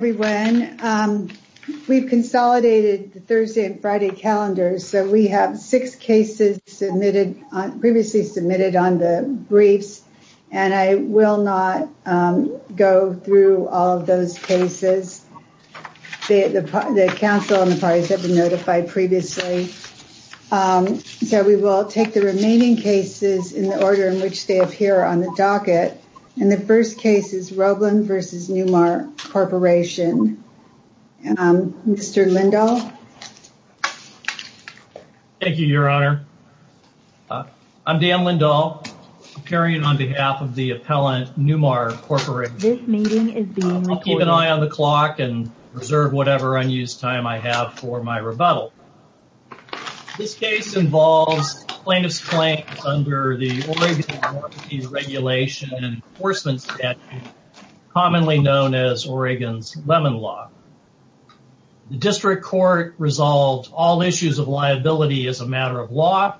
We've consolidated the Thursday and Friday calendars so we have six cases submitted previously submitted on the briefs and I will not go through all of those cases. The council and the parties have been notified previously so we will take the remaining cases in the order in which they appear on the docket and the first case is Roblin v. Newmar Corporation. Mr. Lindahl. Thank you Your Honor. I'm Dan Lindahl appearing on behalf of the appellant Newmar Corporation. I'll keep an eye on the clock and reserve whatever unused time I have for my rebuttal. This case involves plaintiff's claim under the Oregon property regulation and enforcement statute, commonly known as Oregon's Lemon Law. The district court resolved all issues of liability as a matter of law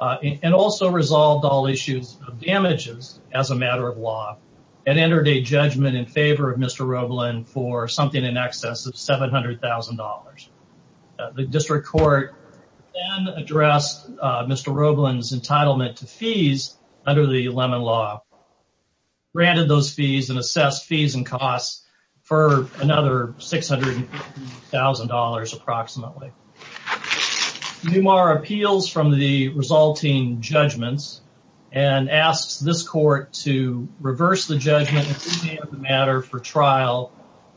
and also resolved all issues of damages as a matter of law and entered a judgment in favor of Mr. Roblin for something in excess of $700,000. The district court then addressed Mr. Roblin's entitlement to fees under the Lemon Law, granted those fees and assessed fees and costs for another $650,000 approximately. Newmar appeals from the resulting judgments and asks this court to reverse the judgment in favor of the matter for trial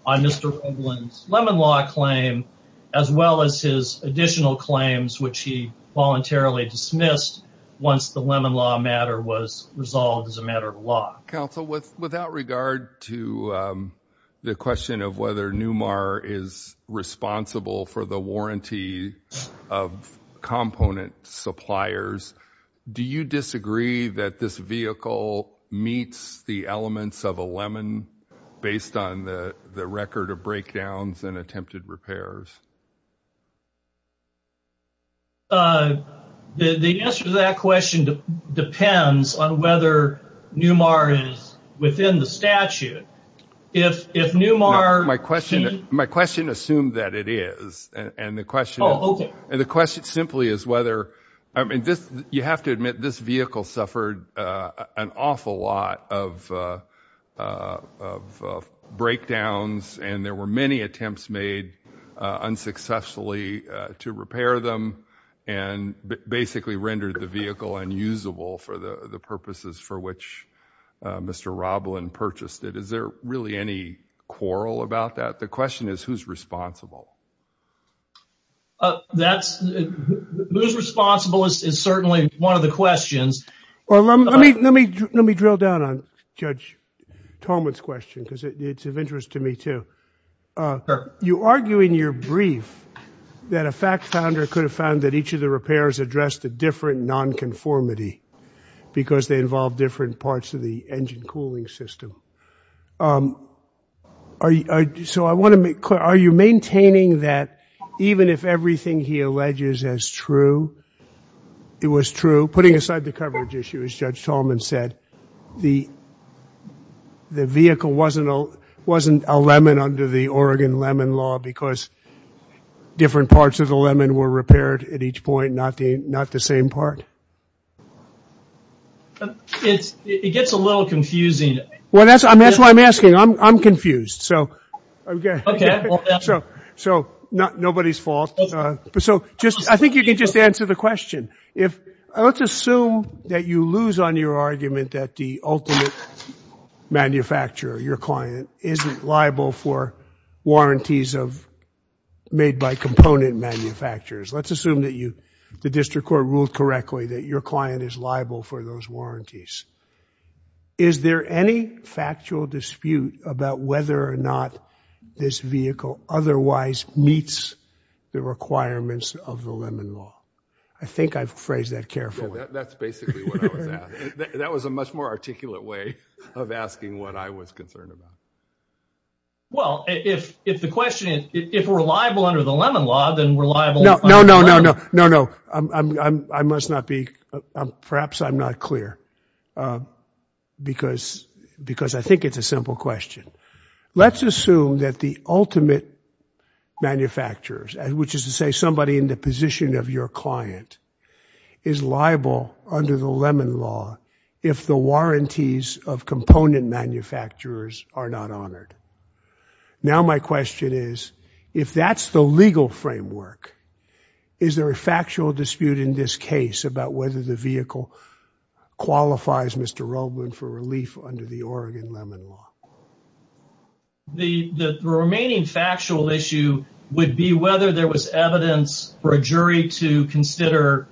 on Mr. Roblin's Lemon Law claim as well as his additional claims which he voluntarily dismissed once the Lemon Law matter was resolved as a matter of law. Counsel, without regard to the question of whether Newmar is responsible for the warranty of component suppliers, do you disagree that this vehicle meets the elements of a lemon based on the record of breakdowns and attempted repairs? The answer to that question depends on whether Newmar is within the statute. My question assumed that it is and the question simply is whether, I mean, you have to admit this vehicle suffered an awful lot of breakdowns and there were many attempts made unsuccessfully to repair them and basically rendered the vehicle unusable for the purposes for which Mr. Roblin purchased it. Is there really any quarrel about that? The question is who's responsible? That's, who's responsible is certainly one of the questions. Let me drill down on Judge Tolman's question because it's of interest to me too. You argue in your brief that a fact founder could have found that each of the repairs addressed a different non-conformity because they involved different parts of the engine cooling system. Are you, so I want to make clear, are you maintaining that even if everything he alleges as true, it was true, putting aside the coverage issue as Judge Tolman said, the vehicle wasn't a lemon under the Oregon lemon law because different parts of the lemon were repaired at each point, not the same part? It gets a little confusing. Well, that's why I'm asking. I'm confused. So, nobody's fault. So, just, I think you can just answer the question. If, let's assume that you lose on your argument that the ultimate manufacturer, your client, isn't liable for warranties of, made by component manufacturers. Let's assume that you, the District Court ruled correctly that your client is liable for those warranties. Is there any factual dispute about whether or not this vehicle otherwise meets the requirements of the lemon law? I think I've phrased that carefully. That's basically what I was asking. That was a much more articulate way of asking what I was concerned about. Well, if the question is, if we're liable under the lemon law, then we're liable. No, no, no, no, no, no. I must not be, perhaps I'm not clear because I think it's a simple question. Let's assume that the ultimate manufacturers, which is to say somebody in the position of your client, is liable under the lemon law if the warranties of component manufacturers are not honored. Now, my question is, if that's the legal framework, is there a factual dispute in this case about whether the vehicle qualifies, Mr. Roblin, for relief under the Oregon lemon law? The remaining factual issue would be whether there was evidence for a jury to consider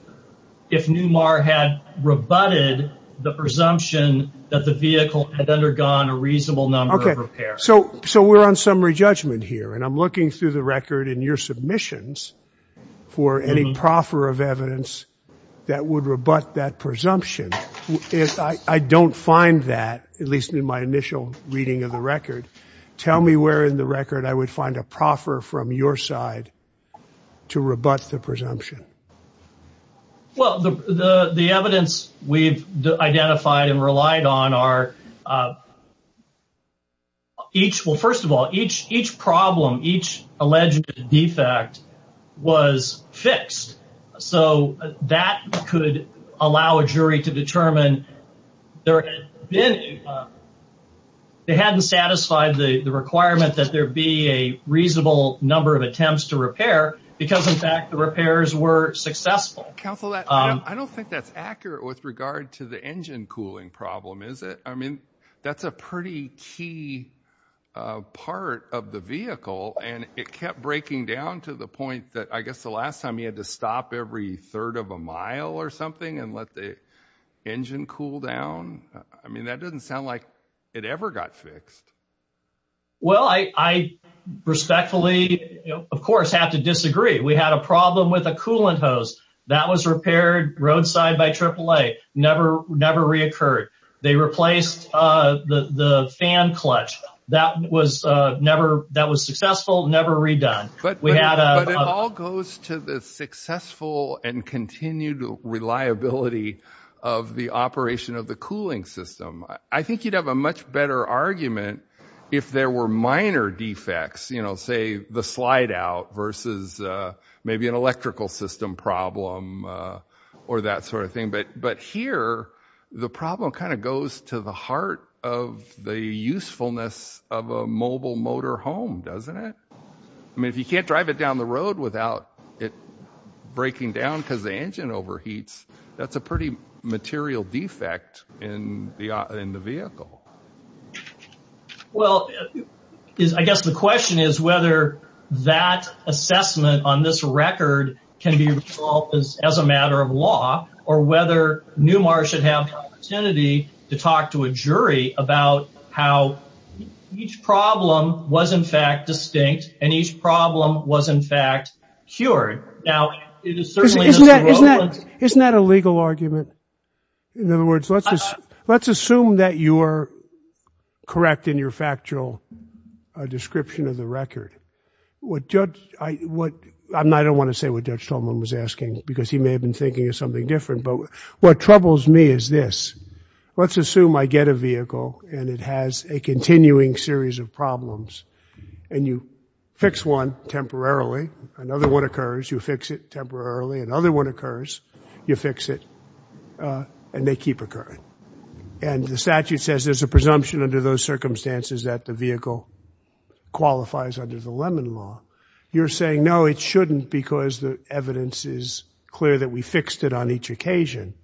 if Newmar had rebutted the presumption that the vehicle had undergone a reasonable number of repairs. So we're on summary judgment here, and I'm looking through the record in your submissions for any proffer of evidence that would rebut that presumption. If I don't find that, at least in my initial reading of the record, tell me where in the record I would find a proffer from your side to rebut the presumption. Well, the evidence we've identified and relied on are each, well, first of all, each problem, each alleged defect was fixed. So that could allow a jury to determine there had been, they hadn't satisfied the requirement that there be a reasonable number of attempts to repair because, in fact, the repairs were successful. Counsel, I don't think that's accurate with regard to the engine cooling problem, is it? That's a pretty key part of the vehicle, and it kept breaking down to the point that, I guess, the last time you had to stop every third of a mile or something and let the engine cool down. I mean, that doesn't sound like it ever got fixed. Well, I respectfully, of course, have to disagree. We had a problem with a coolant hose that was repaired roadside by AAA, never reoccurred. They replaced the fan clutch. That was successful, never redone. But it all goes to the successful and continued reliability of the operation of the cooling system. I think you'd have a much better argument if there were minor defects, you know, say, the slide out versus maybe an electrical system problem or that sort of thing. But here, the problem kind of goes to the heart of the usefulness of a mobile motor home, doesn't it? I mean, if you can't drive it down the road without it breaking down because the engine overheats, that's a pretty material defect in the vehicle. Well, I guess the question is whether that assessment on this record can be resolved as a matter of law or whether Newmar should have the opportunity to talk to a jury about how each problem was, in fact, distinct and each problem was, in fact, cured. Now, it is certainly... Isn't that a legal argument? In other words, let's assume that you're correct in your factual description of the record. What Judge... I don't want to say what Judge Tolman was asking because he may have been thinking of something different. But what troubles me is this. Let's assume I get a vehicle and it has a continuing series of problems and you fix one temporarily. Another one occurs. You fix it temporarily. Another one occurs. You fix it and they keep occurring. And the statute says there's a presumption under those circumstances that the vehicle qualifies under the Lemon Law. You're saying, no, it shouldn't because the evidence is clear that we fixed it on each occasion.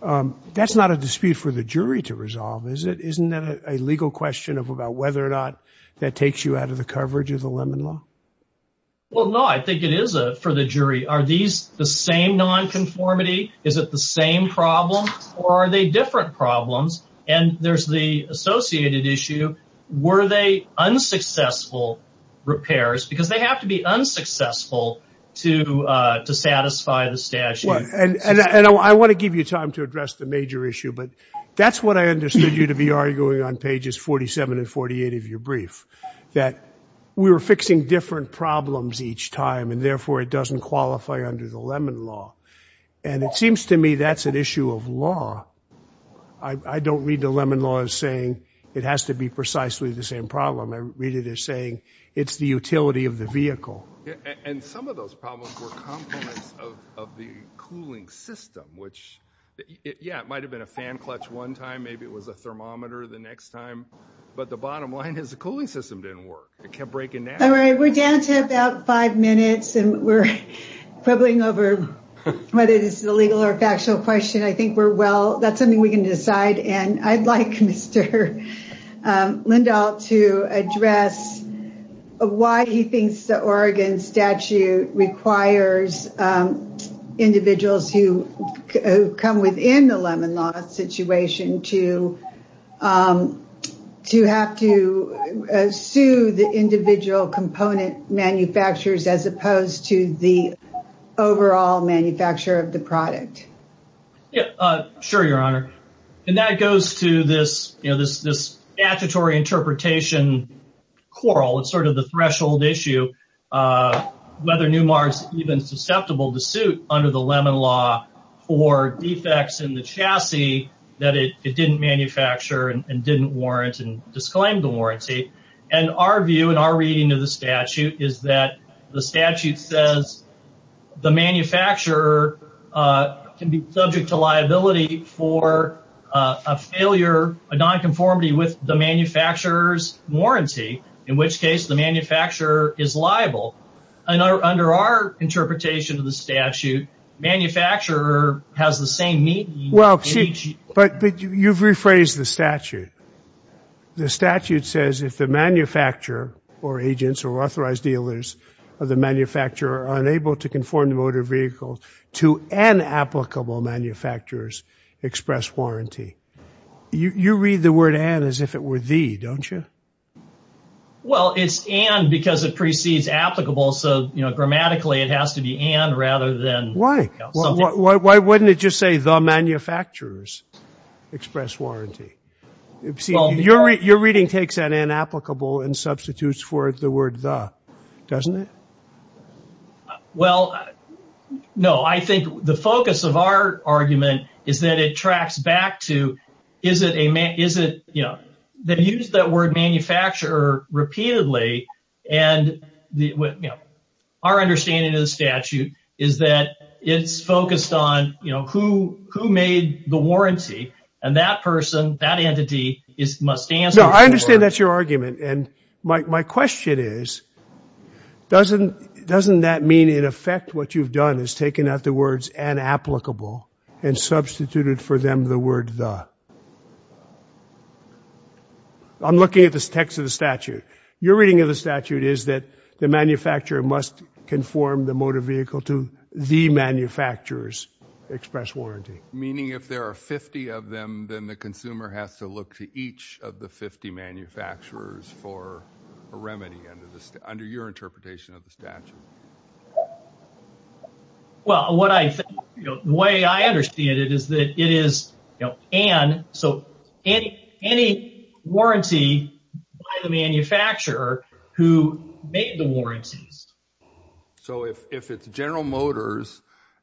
That's not a dispute for the jury to resolve, is it? Isn't that a legal question about whether or not that takes you out of the coverage of the Lemon Law? Well, no, I think it is for the jury. Are these the same nonconformity? Is it the same problem? Or are they different problems? And there's the associated issue. Were they unsuccessful repairs? Because they have to be unsuccessful to satisfy the statute. And I want to give you time to address the major issue, but that's what I understood you to be arguing on pages 47 and 48 of your brief. That we were fixing different problems each time and therefore it doesn't qualify under the Lemon Law. And it seems to me that's an issue of law. I don't read the Lemon Law as saying it has to be precisely the same problem. I read it as saying it's the utility of the vehicle. And some of those problems were components of the cooling system, which, yeah, it might have been a fan clutch one time. Maybe it was a thermometer the next time. But the bottom line is the cooling system didn't work. It kept breaking down. We're down to about five minutes. And we're quibbling over whether this is a legal or factual question. I think we're well. That's something we can decide. And I'd like Mr. Lindahl to address why he thinks the Oregon statute requires individuals who come within the Lemon Law situation to have to sue the individual component manufacturers as opposed to the overall manufacturer of the product. Yeah, sure, Your Honor. And that goes to this statutory interpretation quarrel. It's sort of the threshold issue. Whether Numar's even susceptible to suit under the Lemon Law for defects in the chassis that it didn't manufacture and didn't warrant and disclaim the warranty. And our view and our reading of the statute is that the statute says the manufacturer can be subject to liability for a failure, a nonconformity with the manufacturer's warranty, in which case the manufacturer is liable. Under our interpretation of the statute, manufacturer has the same meat. Well, but you've rephrased the statute. The statute says if the manufacturer or agents or authorized dealers of the manufacturer are unable to conform the motor vehicle to an applicable manufacturers express warranty. You read the word and as if it were the don't you? Well, it's and because it precedes applicable. So grammatically, it has to be and rather than. Why wouldn't it just say the manufacturers express warranty? Your reading takes an inapplicable and substitutes for the word the doesn't it? Well, no, I think the focus of our argument is that it tracks back to is it a man? Is it that use that word manufacturer repeatedly? And our understanding of the statute is that it's focused on, you know, who who made the warranty? And that person, that entity is must answer. I understand that's your argument. And my question is, doesn't doesn't that mean, in effect, what you've done is taken out the words and applicable and substituted for them the word the. I'm looking at this text of the statute. Your reading of the statute is that the manufacturer must conform the motor vehicle to the manufacturers express warranty, meaning if there are 50 of them, then the consumer has to look to each of the 50 manufacturers for a remedy under the under your interpretation of the statute. Well, what I think the way I understand it is that it is, you know, so any warranty by the manufacturer who made the warranties. So if it's General Motors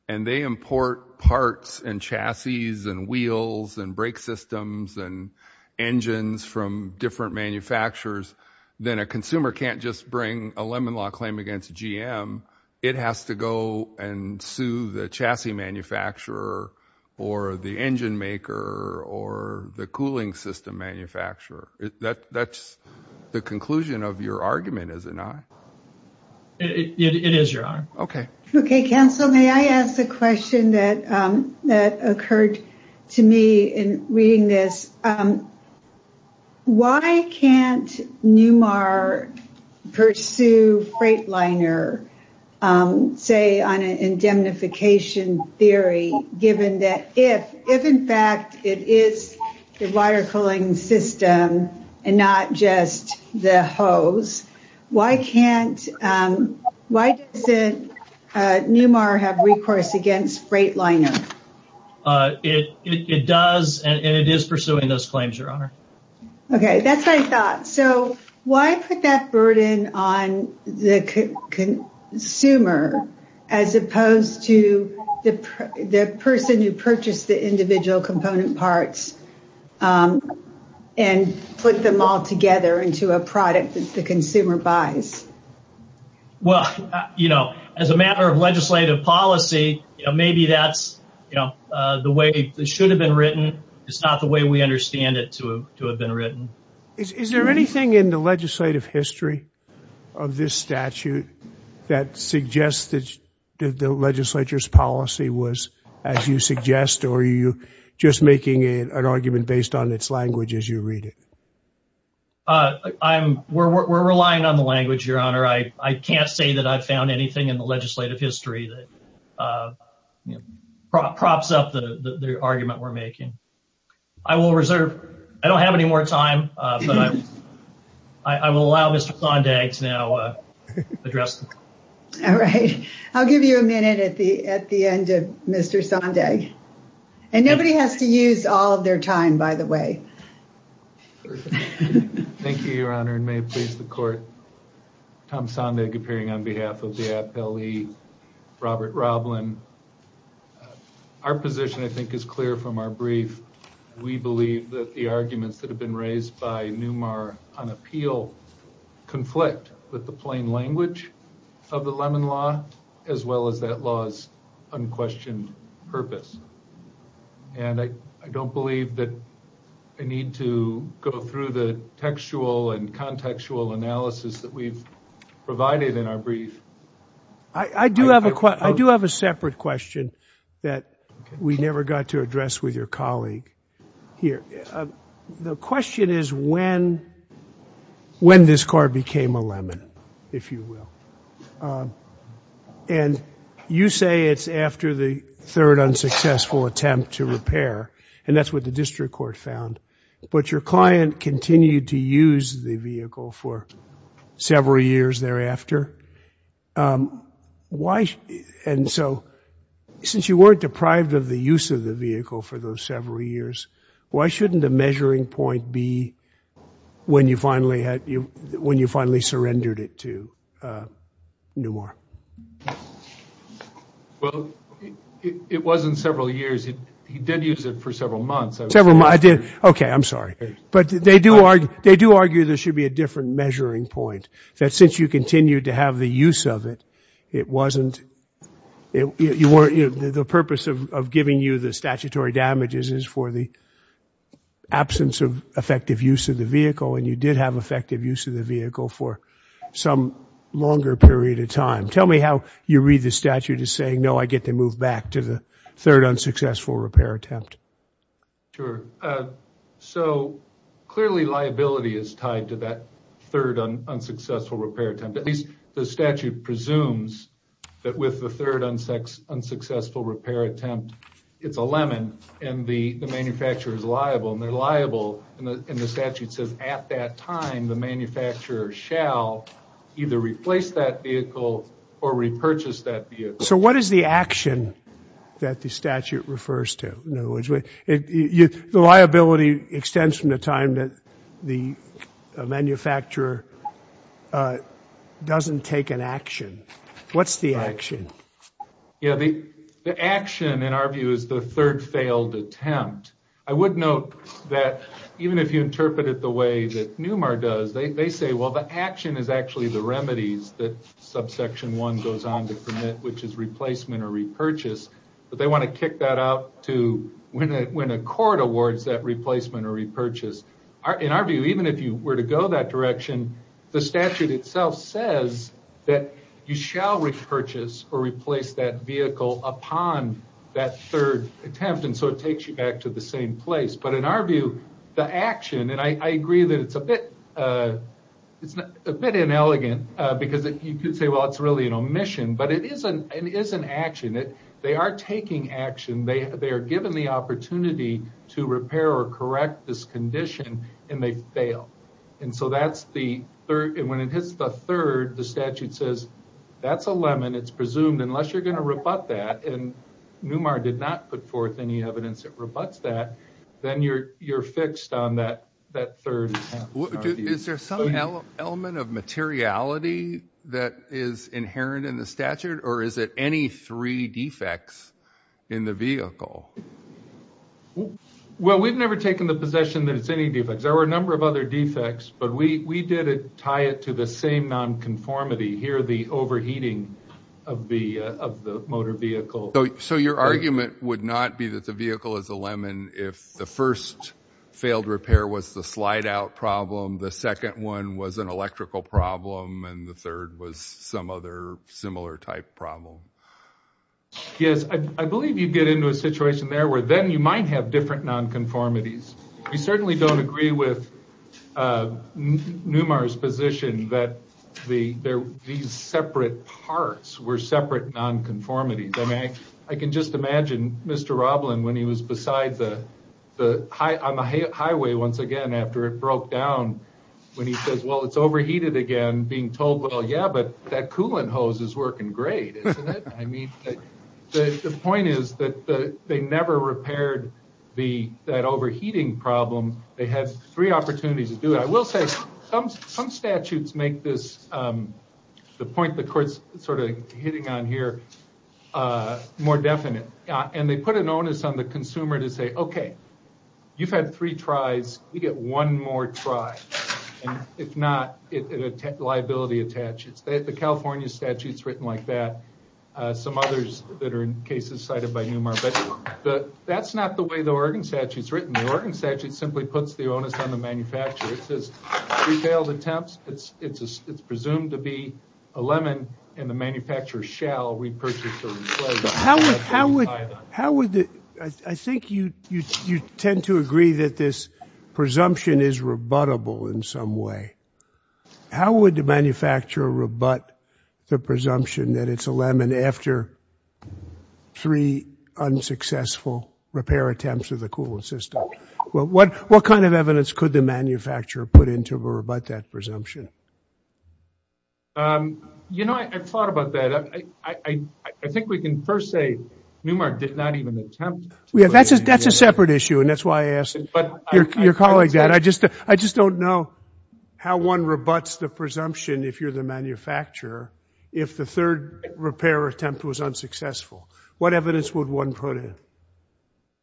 and they import parts and chassis and wheels and brake systems and engines from different manufacturers, then a consumer can't just bring a lemon law claim against GM. It has to go and sue the chassis manufacturer or the engine maker or the cooling system manufacturer. That's the conclusion of your argument, is it not? It is, your honor. OK. OK, counsel, may I ask the question that that occurred to me in reading this? Why can't Newmark pursue Freightliner, say, on an indemnification theory, given that if if, in fact, it is the water cooling system and not just the hose, why can't why doesn't Newmark have recourse against Freightliner? It does, and it is pursuing those claims, your honor. OK, that's my thought. So why put that burden on the consumer as opposed to the person who purchased the individual component parts and put them all together into a product that the consumer buys? Well, you know, as a matter of legislative policy, maybe that's, you know, the way it should have been written. It's not the way we understand it to have been written. Is there anything in the legislative history of this statute that suggests that the legislature's policy was, as you suggest, or are you just making an argument based on its language as you read it? I'm we're relying on the language, your honor. I can't say that I've found anything in the legislative history that props up the argument we're making. I will reserve. I don't have any more time, but I will allow Mr. Sondag to now address. All right. I'll give you a minute at the at the end of Mr. Sondag. And nobody has to use all their time, by the way. Thank you, your honor, and may it please the court. Tom Sondag appearing on behalf of the AAP-LE, Robert Roblin. Our position, I think, is clear from our brief. We believe that the arguments that have been raised by NUMAR on appeal conflict with the plain language of the Lemon Law, as well as that law's unquestioned purpose. And I don't believe that I need to go through the textual and contextual analysis that we've provided in our brief. I do have a separate question that we never got to address with your colleague here. The question is when this car became a Lemon, if you will. And you say it's after the third unsuccessful attempt to repair, and that's what the district court found. But your client continued to use the vehicle for several years thereafter. And so, since you weren't deprived of the use of the vehicle for those several years, why shouldn't a measuring point be when you finally surrendered it to NUMAR? Well, it wasn't several years. He did use it for several months. Several months. I did. Okay, I'm sorry. But they do argue there should be a different measuring point, that since you continued to have the use of it, it wasn't... The purpose of giving you the statutory damages is for the absence of effective use of the vehicle. And you did have effective use of the vehicle for some longer period of time. Tell me how you read the statute as saying, no, I get to move back to the third unsuccessful repair attempt. Sure. So, clearly liability is tied to that third unsuccessful repair attempt. The statute presumes that with the third unsuccessful repair attempt, it's a lemon and the manufacturer is liable. And they're liable and the statute says at that time, the manufacturer shall either replace that vehicle or repurchase that vehicle. So, what is the action that the statute refers to? The liability extends from the time that the manufacturer doesn't take an action. What's the action? Yeah, the action in our view is the third failed attempt. I would note that even if you interpret it the way that NUMAR does, they say, well, the action is actually the remedies that subsection one goes on to commit, which is replacement or repurchase. But they want to kick that out to when a court awards that replacement or repurchase. In our view, even if you were to go that direction, the statute itself says that you shall repurchase or replace that vehicle upon that third attempt and so it takes you back to the same place. But in our view, the action, and I agree that it's a bit inelegant because you could say, well, it's really an omission, but it is an action. They are taking action. They are given the opportunity to repair or correct this condition and they fail. When it hits the third, the statute says, that's a lemon. It's presumed unless you're going to rebut that, and NUMAR did not put forth any evidence that rebuts that, then you're fixed on that third attempt. Is there some element of materiality that is inherent in the statute? Or is it any three defects in the vehicle? Well, we've never taken the possession that it's any defects. There were a number of other defects, but we did tie it to the same nonconformity. Here, the overheating of the motor vehicle. So your argument would not be that the vehicle is a lemon if the first failed repair was the slide-out problem, the second one was an electrical problem, and the third was some other similar type problem. Yes, I believe you'd get into a situation there where then you might have different nonconformities. We certainly don't agree with NUMAR's position that these separate parts were separate nonconformities. I can just imagine Mr. Roblin when he was beside the highway once again after it broke down, he says, well, it's overheated again, being told, well, yeah, but that coolant hose is working great, isn't it? I mean, the point is that they never repaired that overheating problem. They had three opportunities to do it. I will say some statutes make this, the point the court's sort of hitting on here, more definite. And they put an onus on the consumer to say, OK, you've had three tries. We get one more try. And if not, liability attaches. The California statute's written like that. Some others that are in cases cited by NUMAR. But that's not the way the Oregon statute's written. The Oregon statute simply puts the onus on the manufacturer. It says, three failed attempts, it's presumed to be a lemon, and the manufacturer shall repurchase the replacement. So how would, I think you tend to agree that this presumption is rebuttable in some way. How would the manufacturer rebut the presumption that it's a lemon after three unsuccessful repair attempts of the coolant system? What kind of evidence could the manufacturer put in to rebut that presumption? You know, I've thought about that. I think we can first say NUMAR did not even attempt to put it in there. Yeah, that's a separate issue. And that's why I asked your colleague that. I just don't know how one rebuts the presumption, if you're the manufacturer, if the third repair attempt was unsuccessful. What evidence would one put in?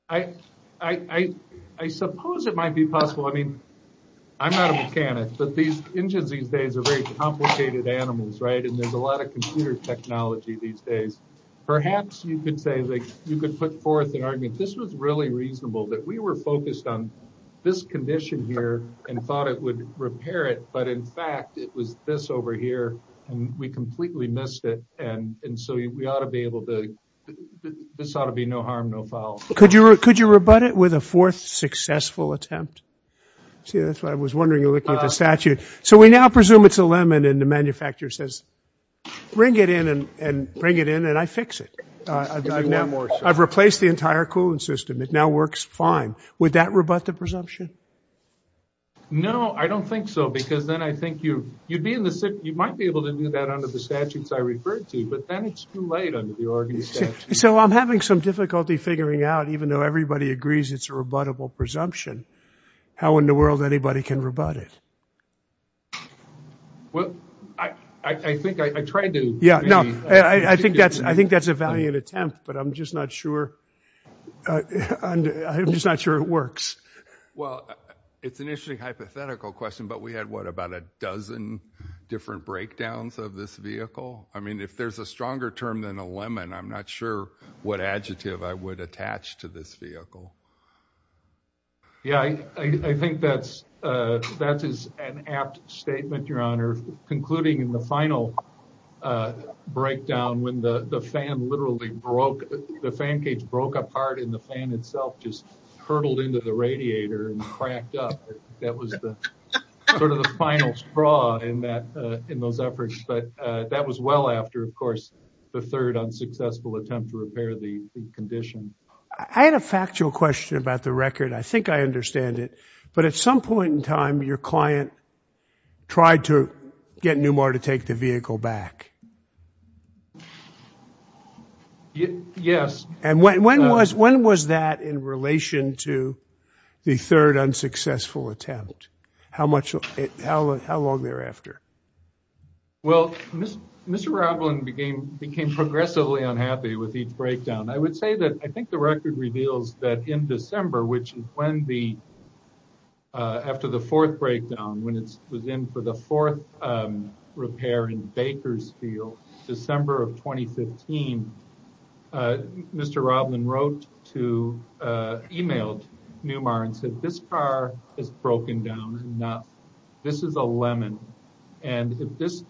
I suppose it might be possible. I mean, I'm not a mechanic. But these engines these days are very complicated animals, right? There's a lot of computer technology these days. Perhaps you could say, you could put forth an argument, this was really reasonable that we were focused on this condition here and thought it would repair it. But in fact, it was this over here, and we completely missed it. And so we ought to be able to, this ought to be no harm, no foul. Could you rebut it with a fourth successful attempt? See, that's what I was wondering, looking at the statute. So we now presume it's a lemon, and the manufacturer says, bring it in, and I fix it. I've replaced the entire cooling system. It now works fine. Would that rebut the presumption? No, I don't think so. Because then I think you might be able to do that under the statutes I referred to. But then it's too late under the Oregon statute. So I'm having some difficulty figuring out, even though everybody agrees it's a rebuttable presumption, how in the world anybody can rebut it? Well, I think I tried to. Yeah, no, I think that's a valiant attempt. But I'm just not sure. I'm just not sure it works. Well, it's an interesting hypothetical question. But we had, what, about a dozen different breakdowns of this vehicle? I mean, if there's a stronger term than a lemon, I'm not sure what adjective I would attach to this vehicle. Yeah, I think that's an apt statement, Your Honor. Concluding in the final breakdown, when the fan literally broke, the fan cage broke apart and the fan itself just hurtled into the radiator and cracked up. That was sort of the final straw in those efforts. But that was well after, of course, the third unsuccessful attempt to repair the condition. I had a factual question about the record. I think I understand it. But at some point in time, your client tried to get Newmar to take the vehicle back. Yes. And when was that in relation to the third unsuccessful attempt? How long thereafter? Well, Mr. Roblin became progressively unhappy with each breakdown. I would say that I think the record reveals that in December, which is when the, after the fourth breakdown, when it was in for the fourth repair in Bakersfield, December of 2015, Mr. Roblin wrote to, emailed Newmar and said, this car is broken down enough. This is a lemon. And if this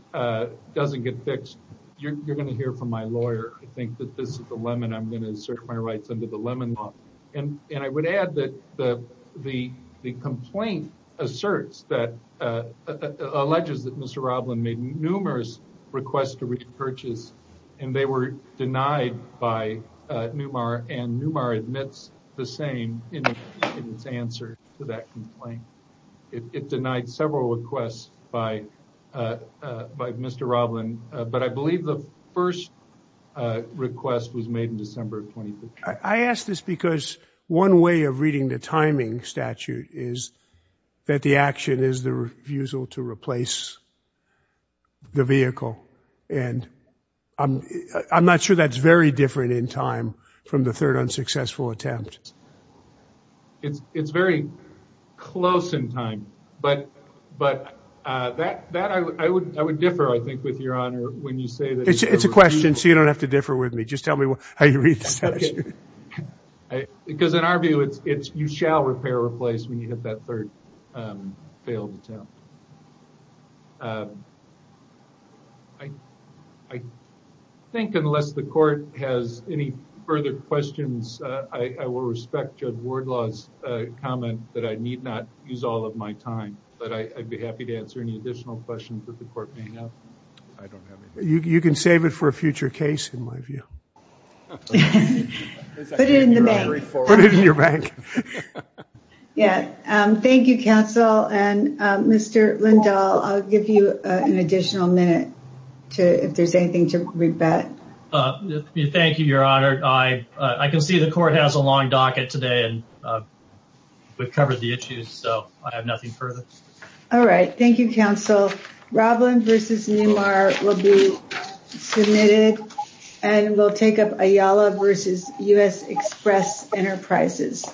doesn't get fixed, you're going to hear from my lawyer. I think that this is the lemon. I'm going to assert my rights under the lemon law. And I would add that the complaint asserts that, alleges that Mr. Roblin made numerous requests to repurchase, and they were denied by Newmar. And Newmar admits the same in its answer to that complaint. It denied several requests by Mr. Roblin. But I believe the first request was made in December of 2015. I ask this because one way of reading the timing statute is that the action is the refusal to replace the vehicle. And I'm not sure that's very different in time from the third unsuccessful attempt. It's very close in time. But that I would differ, I think, with your honor, when you say that. It's a question, so you don't have to differ with me. Just tell me how you read the statute. Because in our view, it's you shall repair or replace when you hit that third failed attempt. I think unless the court has any further questions, I will respect Judge Wardlaw's comment that I need not use all of my time. But I'd be happy to answer any additional questions that the court may have. I don't have anything. You can save it for a future case, in my view. Put it in the bank. Put it in your bank. Thank you, counsel. And Mr. Lindahl, I'll give you an additional minute if there's anything to rebut. Thank you, your honor. I can see the court has a long docket today. And we've covered the issues, so I have nothing further. All right. Thank you, counsel. Roblin versus Newmar will be submitted. And we'll take up Ayala versus U.S. Express Enterprises.